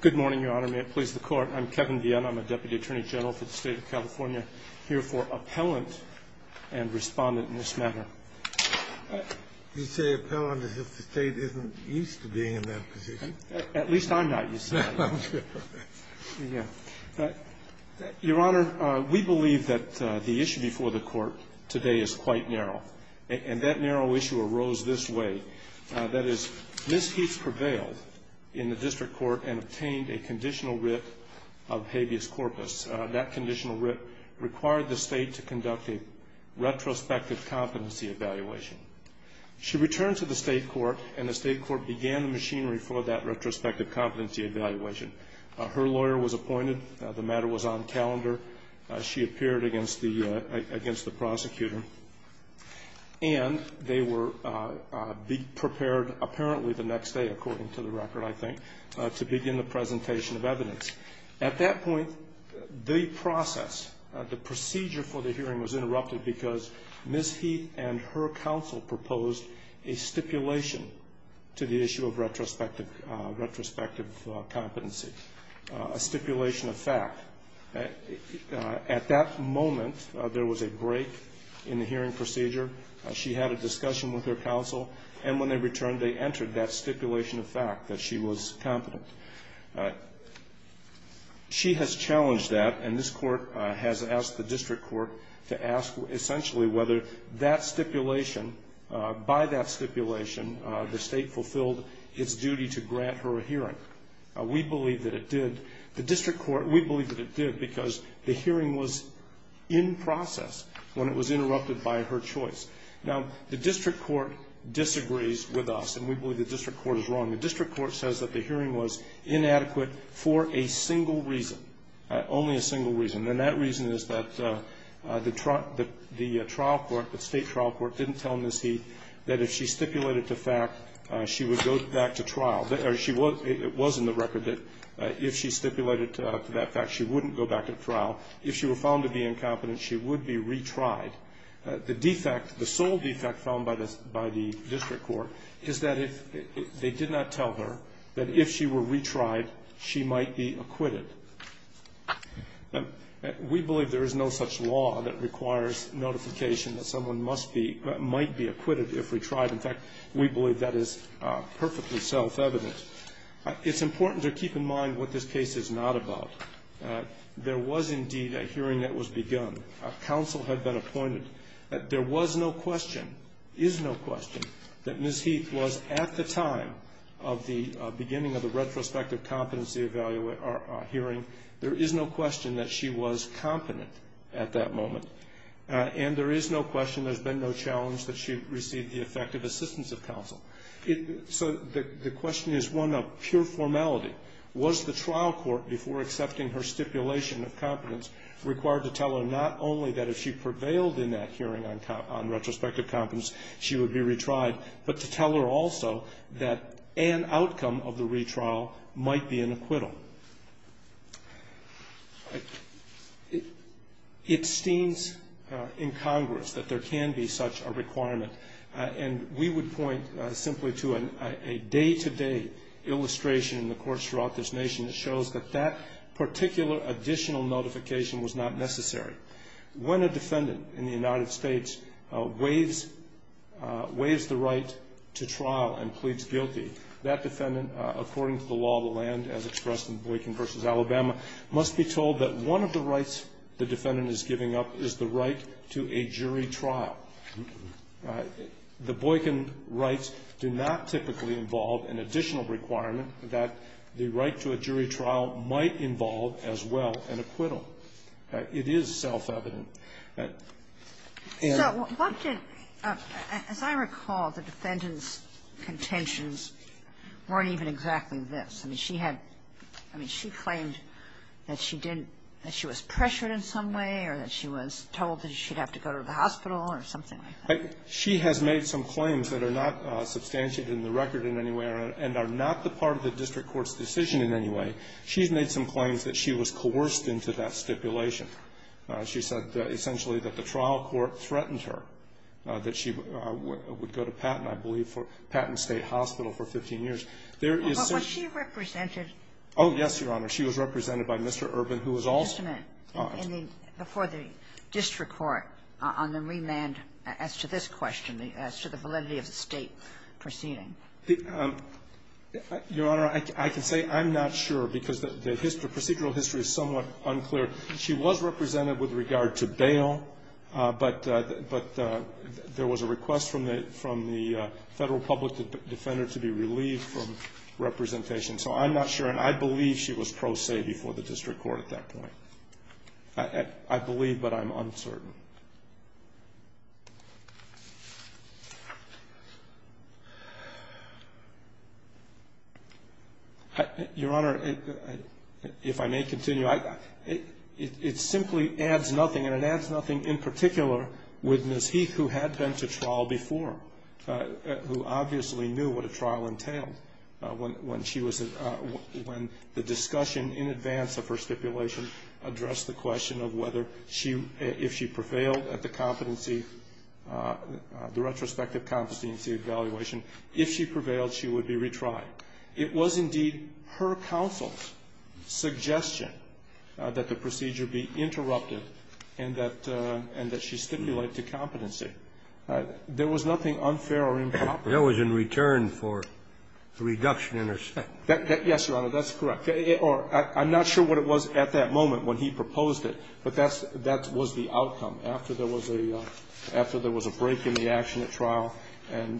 Good morning, Your Honor. May it please the Court. I'm Kevin Vienne. I'm a Deputy Attorney General for the State of California. Here for appellant and respondent in this matter. You say appellant if the State isn't used to being in that position. At least I'm not used to being in that position. Your Honor, we believe that the issue before the Court today is quite narrow. And that narrow issue arose this way. That is, Ms. Heaps prevailed in the District Court and obtained a conditional writ of habeas corpus. That conditional writ required the State to conduct a retrospective competency evaluation. She returned to the State Court and the State Court began the machinery for that retrospective competency evaluation. Her lawyer was appointed. The matter was on calendar. She appeared against the prosecutor. And they were prepared apparently the next day, according to the record, I think, to begin the presentation of evidence. At that point, the process, the procedure for the hearing was interrupted because Ms. Heath and her counsel proposed a stipulation to the issue of retrospective competency, a stipulation of fact. At that moment, there was a break in the hearing procedure. She had a discussion with her counsel. And when they returned, they entered that stipulation of fact that she was competent. She has challenged that, and this Court has asked the District Court to ask essentially whether that stipulation, by that stipulation, the State fulfilled its duty to grant her a hearing. We believe that it did. The District Court, we believe that it did because the hearing was in process when it was interrupted by her choice. Now, the District Court disagrees with us, and we believe the District Court is wrong. The District Court says that the hearing was inadequate for a single reason, only a single reason. And that reason is that the trial court, the State trial court, didn't tell Ms. Heath that if she stipulated to fact, she would go back to trial. It was in the record that if she stipulated to that fact, she wouldn't go back to trial. If she were found to be incompetent, she would be retried. The defect, the sole defect found by the District Court is that they did not tell her that if she were retried, she might be acquitted. We believe there is no such law that requires notification that someone must be, might be acquitted if retried. In fact, we believe that is perfectly self-evident. It's important to keep in mind what this case is not about. There was indeed a hearing that was begun. A counsel had been appointed. There was no question, is no question, that Ms. Heath was at the time of the beginning of the retrospective competency hearing. There is no question that she was competent at that moment. And there is no question, there's been no challenge that she received the effective assistance of counsel. So the question is one of pure formality. Was the trial court before accepting her stipulation of competence required to tell her not only that if she was retried, but also that an outcome of the retrial might be an acquittal? It steams in Congress that there can be such a requirement. And we would point simply to a day-to-day illustration in the courts throughout this nation that shows that that particular additional notification was not necessary. When a defendant in the United States waives the right to trial and pleads guilty, that defendant, according to the law of the land as expressed in Boykin v. Alabama, must be told that one of the rights the defendant is giving up is the right to a jury trial. The Boykin rights do not typically involve an additional requirement that the right to a jury trial might involve as well an acquittal. It is self-evident. And so what did – as I recall, the defendant's contentions weren't even exactly this. I mean, she had – I mean, she claimed that she didn't – that she was pressured in some way or that she was told that she'd have to go to the hospital or something like that. She has made some claims that are not substantiated in the record in any way and are not the part of the district court's decision in any way. She's made some claims that she was coerced into that stipulation. She said, essentially, that the trial court threatened her, that she would go to Patton, I believe, for – Patton State Hospital for 15 years. There is such – Kagan. But was she represented? Horwich. Oh, yes, Your Honor. She was represented by Mr. Urban, who was also – Kagan. Just a minute. Before the district court, on the remand, as to this question, as to the validity of the State proceeding. Horwich. Your Honor, I can say I'm not sure because the history – procedural history is somewhat unclear. She was represented with regard to bail, but there was a request from the – from the Federal public defender to be relieved from representation. So I'm not sure, and I believe she was pro se before the district court at that point. I believe, but I'm uncertain. Your Honor, if I may continue, I – it simply adds nothing, and it adds nothing in particular with Ms. Heath, who had been to trial before, who obviously knew what a trial entailed when she was – when the discussion in advance of her stipulation addressed the question of whether she – if she preferred to go to Patton State Hospital or not. Kagan. If she prevailed at the competency – the retrospective competency evaluation, if she prevailed, she would be retried. It was indeed her counsel's suggestion that the procedure be interrupted and that – and that she stipulate to competency. There was nothing unfair or improper. It was in return for the reduction in her sentence. Yes, Your Honor, that's correct. Or I'm not sure what it was at that moment when he proposed it, but that's – that was the outcome after there was a – after there was a break in the action at trial and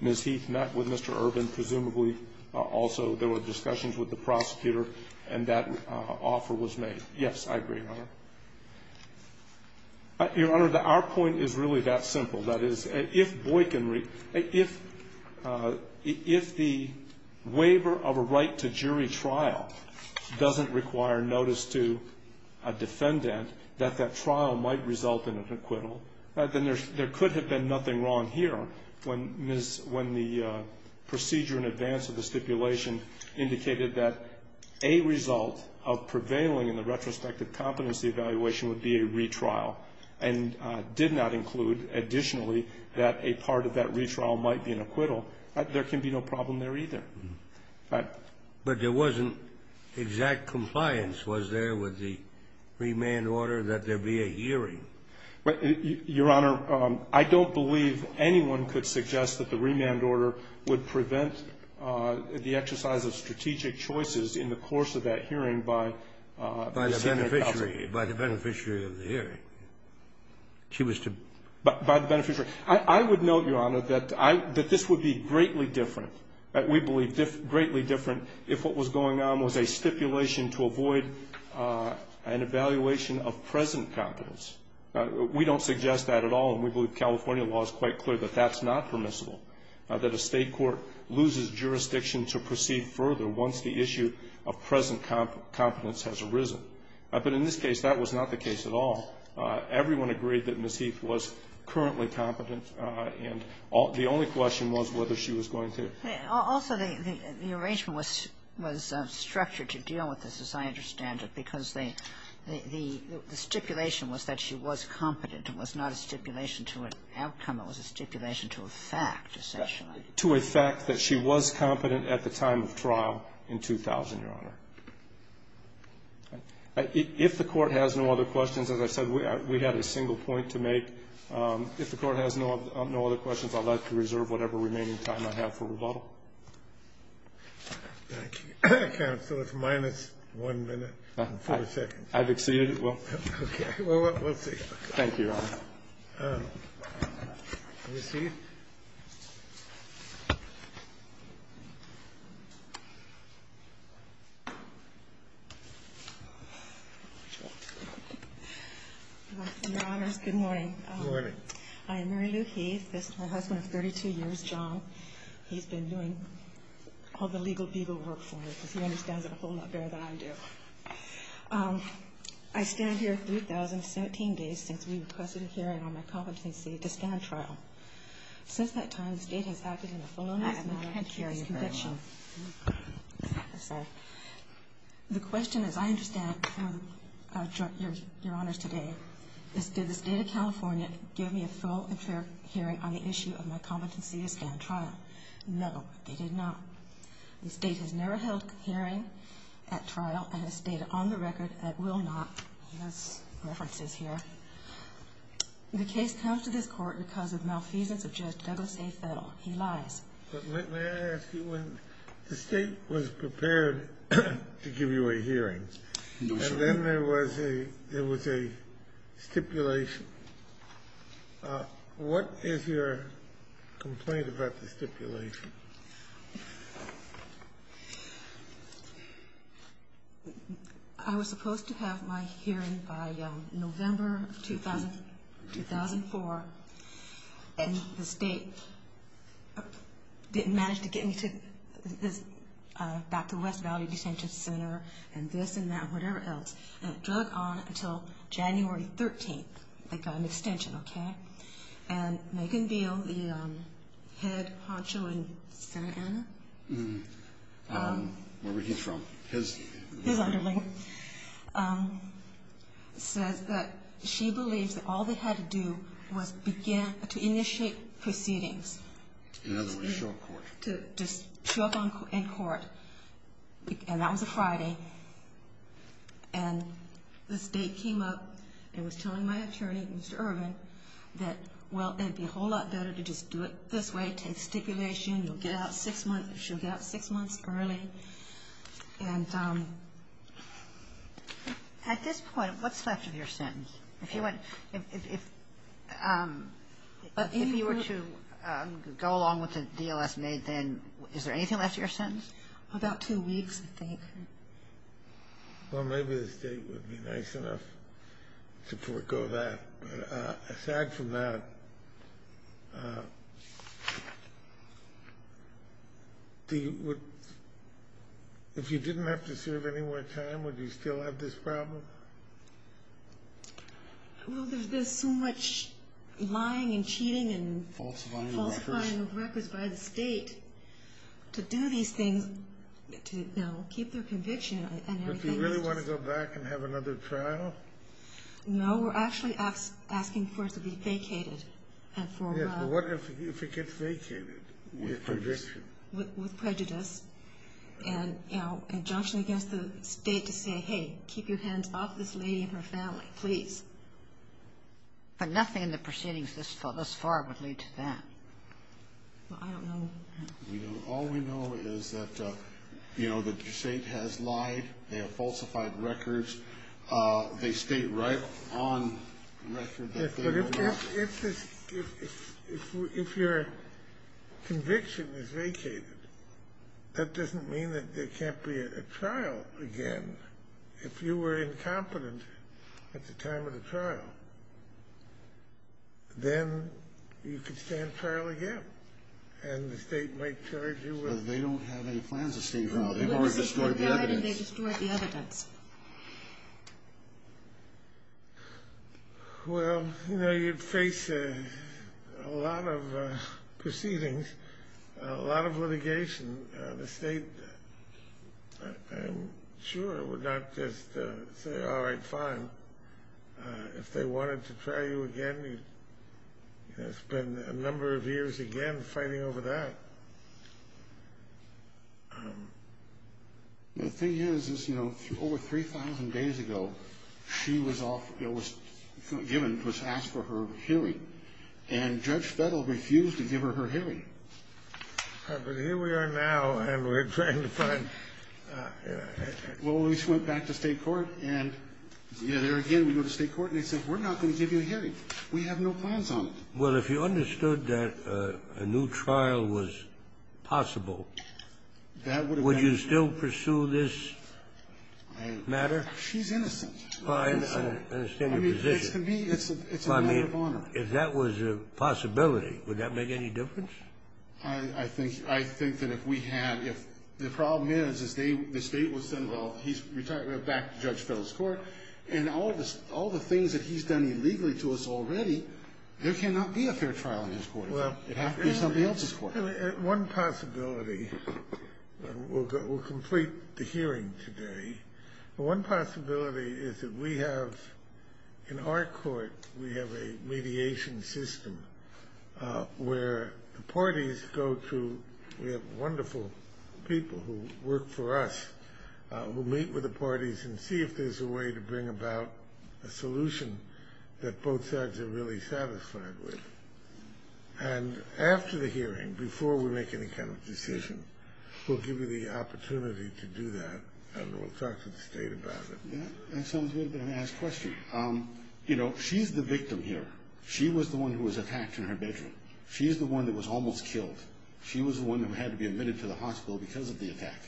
Ms. Heath met with Mr. Urban. Presumably also there were discussions with the prosecutor and that offer was made. Yes, I agree, Your Honor. Your Honor, our point is really that simple. That is, if Boykin – if the waiver of a right to jury trial doesn't require notice to a defendant that that trial might result in an acquittal, then there could have been nothing wrong here when Ms. – when the procedure in advance of the stipulation indicated that a result of prevailing in the retrospective competency evaluation would be a retrial and did not include additionally that a part of that retrial might be an acquittal, there can be no problem there either. But there wasn't exact compliance, was there, with the remand order that there be a hearing? Your Honor, I don't believe anyone could suggest that the remand order would prevent the exercise of strategic choices in the course of that hearing by the Senate counsel. By the beneficiary. By the beneficiary of the hearing. She was to – By the beneficiary. I would note, Your Honor, that I – that this would be greatly different – we believe greatly different if what was going on was a stipulation to avoid an evaluation of present competence. We don't suggest that at all, and we believe California law is quite clear that that's not permissible, that a State court loses jurisdiction to proceed further once the issue of present competence has arisen. But in this case, that was not the case at all. Everyone agreed that she was going to. Also, the arrangement was structured to deal with this, as I understand it, because the stipulation was that she was competent. It was not a stipulation to an outcome. It was a stipulation to a fact, essentially. To a fact that she was competent at the time of trial in 2000, Your Honor. If the Court has no other questions, as I said, we had a single point to make. If the Court has no other questions, I'd like to reserve whatever remaining time I have for rebuttal. Thank you. Counsel, it's minus 1 minute and 40 seconds. I've exceeded. Okay. Well, we'll see. Thank you, Your Honor. Ms. Heath. Your Honors, good morning. Good morning. I am Mary Lou Heath. This is my husband of 32 years, John. He's been doing all the legal beagle work for me, because he understands it a whole lot better than I do. I stand here 3,017 days since we requested a hearing on my competency to stand trial. Since that time, the State has acted in a full and fair manner to the I can't hear you very well. I'm sorry. The question, as I understand, Your Honors, today, is did the State of California give me a full and fair hearing on the issue of my competency to stand trial? No, they did not. The State has never held a hearing at trial, and the State, on the record, will not. He has references here. The case comes to this Court because of malfeasance of Judge Douglas A. Fettle. He lies. But may I ask you, when the State was prepared to give you a hearing, and then there was a stipulation, what is your complaint about the stipulation? I was supposed to have my hearing by November of 2004, and the State didn't manage to get me back to West Valley Detention Center and this and that and whatever else, and it dragged on until January 13th. They got an extension, okay? And Megan Beal, the head honcho in Santa Ana, where he's from, his underling, says that she believes that all they had to do was begin to initiate proceedings. In other words, show up in court. To show up in court, and that was a Friday, and the State came up and was telling my client, well, it would be a whole lot better to just do it this way, take stipulation. You'll get out six months early. And at this point, what's left of your sentence? If you were to go along with the deal that's made, then is there anything left of your sentence? About two weeks, I think. Well, maybe the State would be nice enough to forgo that, but aside from that, if you didn't have to serve any more time, would you still have this problem? Well, there's so much lying and cheating and falsifying of records by the State to do these things to, you know, keep their conviction. But do you really want to go back and have another trial? No, we're actually asking for it to be vacated. Yes, but what if it gets vacated with conviction? With prejudice and, you know, injunction against the State to say, hey, keep your hands off this lady and her family, please. But nothing in the proceedings thus far would lead to that. Well, I don't know. All we know is that, you know, the State has lied. They have falsified records. They state right on record that they will not. Yes, but if your conviction is vacated, that doesn't mean that there can't be a trial again. If you were incompetent at the time of the trial, then you could stand trial again, and the State might charge you with it. They don't have any plans to stand trial. They've already destroyed the evidence. They've already destroyed the evidence. Well, you know, you'd face a lot of proceedings, a lot of litigation. The State, I'm sure, would not just say, all right, fine. If they wanted to try you again, you'd spend a number of years again fighting over that. The thing is, is, you know, over 3,000 days ago, she was given, was asked for her hearing, and Judge Fettle refused to give her her hearing. But here we are now, and we're trying to find, you know. Well, we just went back to State court, and there again, we go to State court, and they said, we're not going to give you a hearing. We have no plans on it. Well, if you understood that a new trial was possible, would you still pursue this matter? She's innocent. I understand your position. It's a matter of honor. If that was a possibility, would that make any difference? I think that if we had, if the problem is, is the State would say, well, he's retired, we're back to Judge Fettle's court. And all the things that he's done illegally to us already, there cannot be a fair trial in his court. It'd have to be somebody else's court. One possibility, we'll complete the hearing today. One possibility is that we have, in our court, we have a mediation system where the parties go to, we have wonderful people who work for us who meet with the parties and see if there's a way to bring about a solution that both sides are really satisfied with. And after the hearing, before we make any kind of decision, we'll give you the opportunity to do that, and we'll talk to the State about it. That sounds like an asked question. You know, she's the victim here. She was the one who was attacked in her bedroom. She's the one that was almost killed. She was the one who had to be admitted to the hospital because of the attack.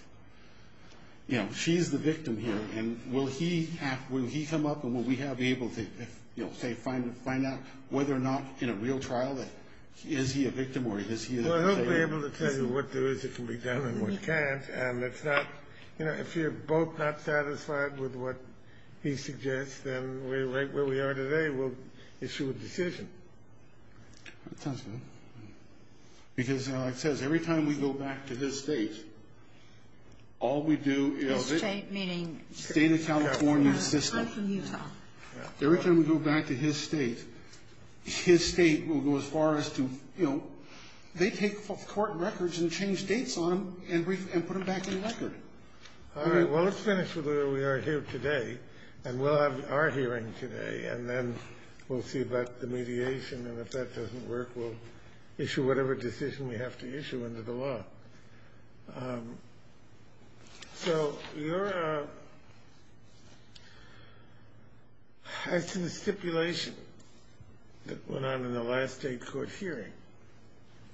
You know, she's the victim here, and will he have, will he come up, and will we have, be able to, you know, say, find out whether or not, in a real trial, is he a victim or is he an attacker? Well, he'll be able to tell you what there is that can be done and what can't. And it's not, you know, if you're both not satisfied with what he suggests, then right where we are today, we'll issue a decision. That sounds good. Because it says every time we go back to his state, all we do is... His state meaning... State of California system. I'm from Utah. Every time we go back to his state, his state will go as far as to, you know, they take court records and change dates on them and put them back in the record. All right. Well, let's finish with where we are here today, and we'll have our hearing today, and then we'll see about the mediation, and if that doesn't work, we'll issue whatever decision we have to issue under the law. So your... I think the stipulation that went on in the last state court hearing.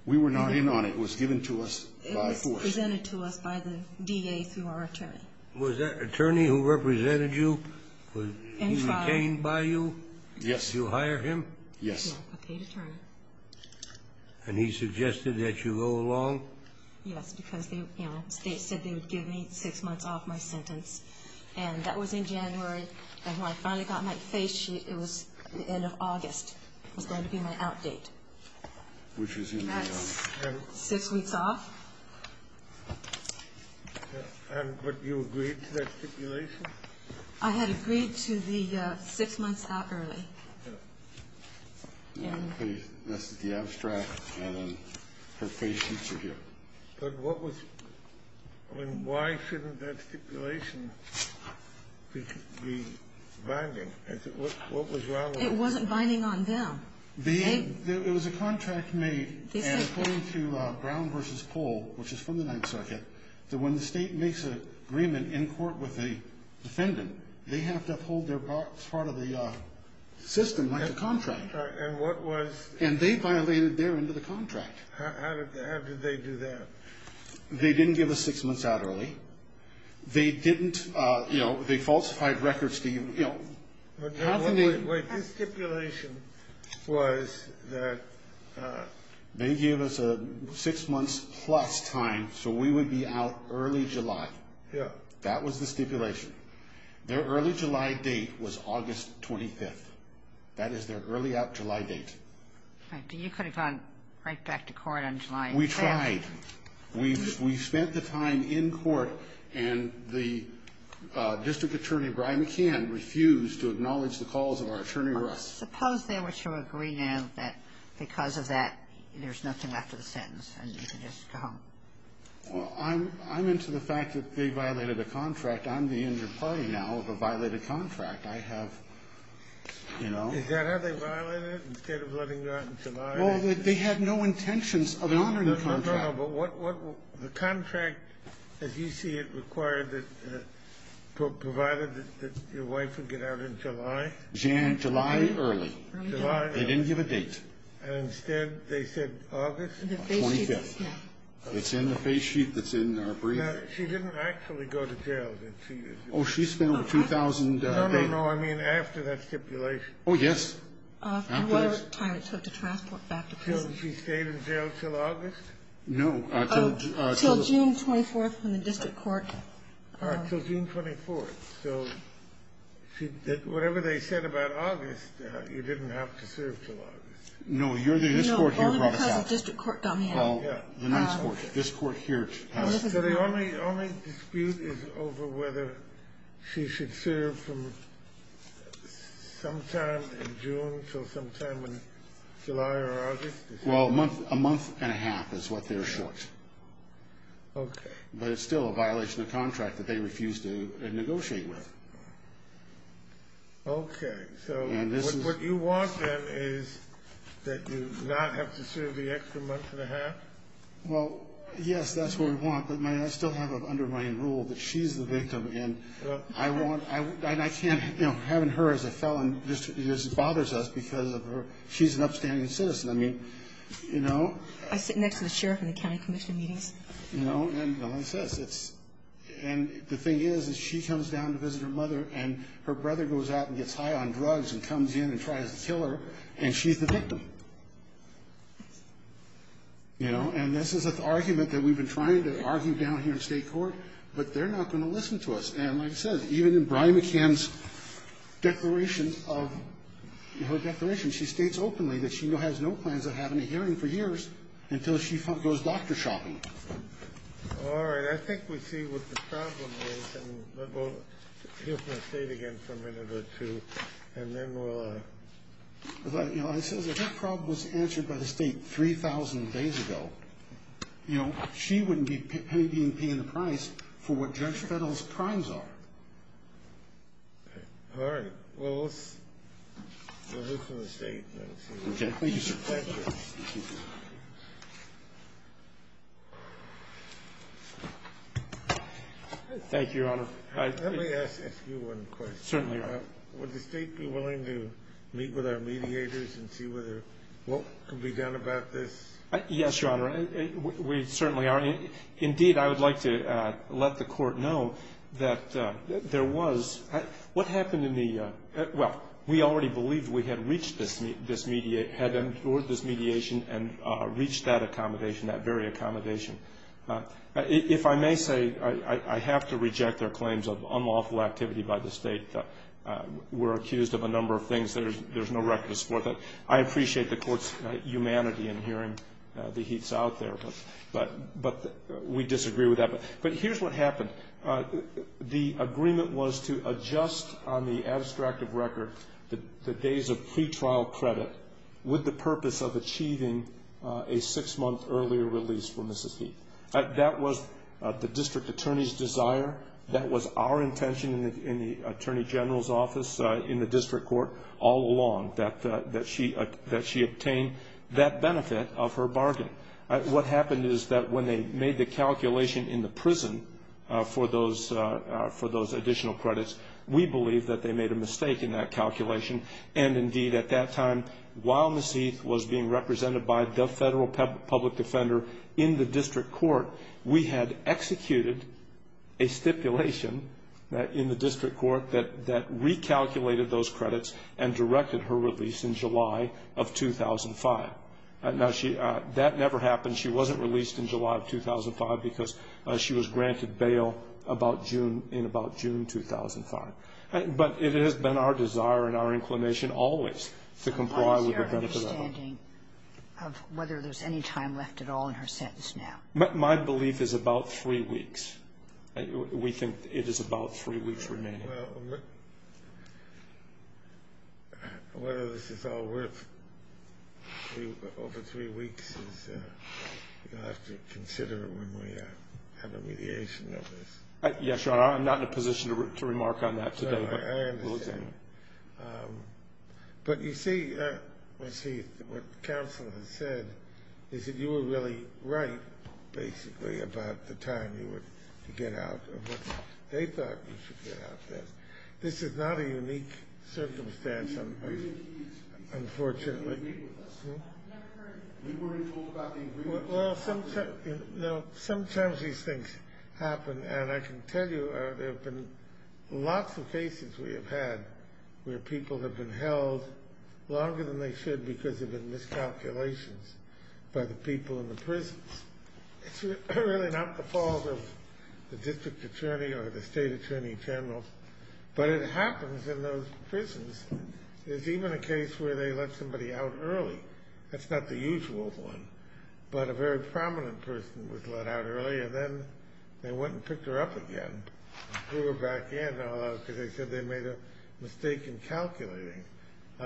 We were not in on it. It was given to us by force. It was presented to us by the DA through our attorney. Was that attorney who represented you? He was detained by you? Yes. Did you hire him? Yes. And he suggested that you go along? Yes, because, you know, the state said they would give me six months off my sentence, and that was in January, and when I finally got my face sheet, it was the end of August. It was going to be my out date. That's six weeks off. And but you agreed to that stipulation? I had agreed to the six months out early. Yes. This is the abstract, and then her face sheets are here. But what was... I mean, why shouldn't that stipulation be binding? What was wrong with it? It wasn't binding on them. It was a contract made according to Brown v. Pohl, which is from the Ninth Circuit, that when the state makes an agreement in court with the defendant, they have to uphold their part of the system like a contract. And what was... And they violated their end of the contract. How did they do that? They didn't give us six months out early. They didn't, you know, they falsified records to, you know... They gave us a six months plus time so we would be out early July. Yeah. That was the stipulation. Their early July date was August 25th. That is their early out July date. You could have gone right back to court on July... We tried. We spent the time in court, and the district attorney, Brian McCann, refused to acknowledge the calls of our attorney, Russ. Suppose they were to agree now that because of that, there's nothing left of the sentence, and you can just go home. Well, I'm into the fact that they violated a contract. I'm the injured party now of a violated contract. I have, you know... Is that how they violated it, instead of letting you out in July? Well, they had no intentions of honoring the contract. No, no, no. But what... The contract, as you see it, required that, provided that your wife would get out in July? July early. July early. They didn't give a date. And instead, they said August... 25th. Yeah. It's in the face sheet that's in our brief. Now, she didn't actually go to jail, did she? Oh, she spent 2,000 days. No, no, no. I mean, after that stipulation. Oh, yes. After what time it took to transport back to prison. She stayed in jail until August? No, until... Oh, until June 24th, when the district court... You didn't have to serve until August. No, this court here brought us out. No, only because the district court got me out. Oh, the ninth court. This court here passed. So the only dispute is over whether she should serve from sometime in June until sometime in July or August? Well, a month and a half is what they're short. Okay. But it's still a violation of contract that they refused to negotiate with. Okay. So what you want, then, is that you not have to serve the extra month and a half? Well, yes, that's what we want. But I still have an underlying rule that she's the victim. And I can't... You know, having her as a felon just bothers us because of her... She's an upstanding citizen. I mean, you know... I sit next to the sheriff in the county commission meetings. You know... And the thing is, is she comes down to visit her mother. And her brother goes out and gets high on drugs and comes in and tries to kill her. And she's the victim. You know, and this is an argument that we've been trying to argue down here in state court. But they're not going to listen to us. And like I said, even in Brian McCann's declaration of... Her declaration, she states openly that she has no plans of having a hearing for years until she goes doctor shopping. All right. I think we see what the problem is. And we'll hear from the state again for a minute or two. And then we'll... But, you know, it says if her problem was answered by the state 3,000 days ago... You know, she wouldn't be paying the price for what Judge Fettel's crimes are. All right. Well, let's... We'll hear from the state. Thank you, sir. Thank you. Thank you, Your Honor. Let me ask you one question. Certainly, Your Honor. Would the state be willing to meet with our mediators and see whether what could be done about this? Yes, Your Honor. We certainly are. Indeed, I would like to let the court know that there was... What happened in the... Well, we already believed we had reached this... If I may say, I have to reject their claims of unlawful activity by the state. We're accused of a number of things. There's no record to support that. I appreciate the court's humanity in hearing the heats out there. But we disagree with that. But here's what happened. The agreement was to adjust on the abstractive record the days of pretrial credit with the purpose of achieving a six-month earlier release for Mrs. Heath. That was the district attorney's desire. That was our intention in the attorney general's office in the district court all along, that she obtain that benefit of her bargain. What happened is that when they made the calculation in the prison for those additional credits, we believed that they made a mistake in that calculation. And, indeed, at that time, while Mrs. Heath was being represented by the federal public defender in the district court, we had executed a stipulation in the district court that recalculated those credits and directed her release in July of 2005. That never happened. She wasn't released in July of 2005 because she was granted bail in about June 2005. But it has been our desire and our inclination always to comply with the benefit of that. How is your understanding of whether there's any time left at all in her sentence now? My belief is about three weeks. We think it is about three weeks remaining. Well, whether this is all worth over three weeks, you'll have to consider it when we have a mediation of this. Yes, Your Honor, I'm not in a position to remark on that today. I understand. But, you see, Mrs. Heath, what the counsel has said is that you were really right, basically, about the time you would get out of what they thought you should get out of this. This is not a unique circumstance, unfortunately. Are you in agreement with us? You were in full agreement with us. Well, sometimes these things happen. And I can tell you there have been lots of cases we have had where people have been held longer than they should because there have been miscalculations by the people in the prisons. It's really not the fault of the district attorney or the state attorney general, but it happens in those prisons. There's even a case where they let somebody out early. That's not the usual one, but a very prominent person was let out early, and then they went and picked her up again and threw her back in because they said they made a mistake in calculating.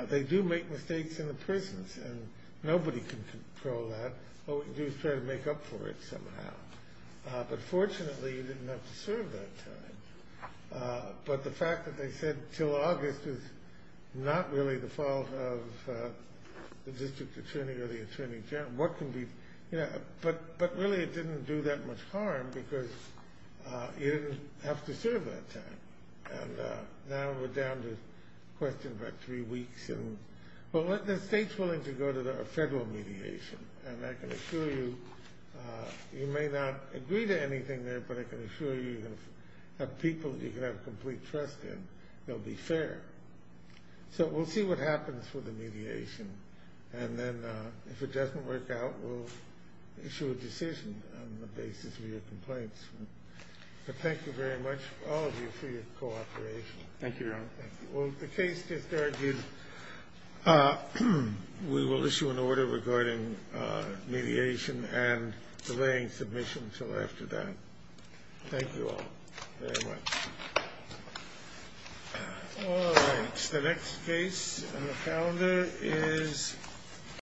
They do make mistakes in the prisons, and nobody can control that. All we can do is try to make up for it somehow. But, fortunately, you didn't have to serve that time. But the fact that they said until August is not really the fault of the district attorney or the attorney general. But, really, it didn't do that much harm because you didn't have to serve that time. Now we're down to questions about three weeks. The state's willing to go to federal mediation, and I can assure you you may not agree to anything there, but I can assure you you're going to have people you can have complete trust in. They'll be fair. So we'll see what happens with the mediation. And then if it doesn't work out, we'll issue a decision on the basis of your complaints. But thank you very much, all of you, for your cooperation. Thank you, Your Honor. Well, the case just argued we will issue an order regarding mediation and delaying submission until after that. Thank you all very much. All right. The next case on the calendar is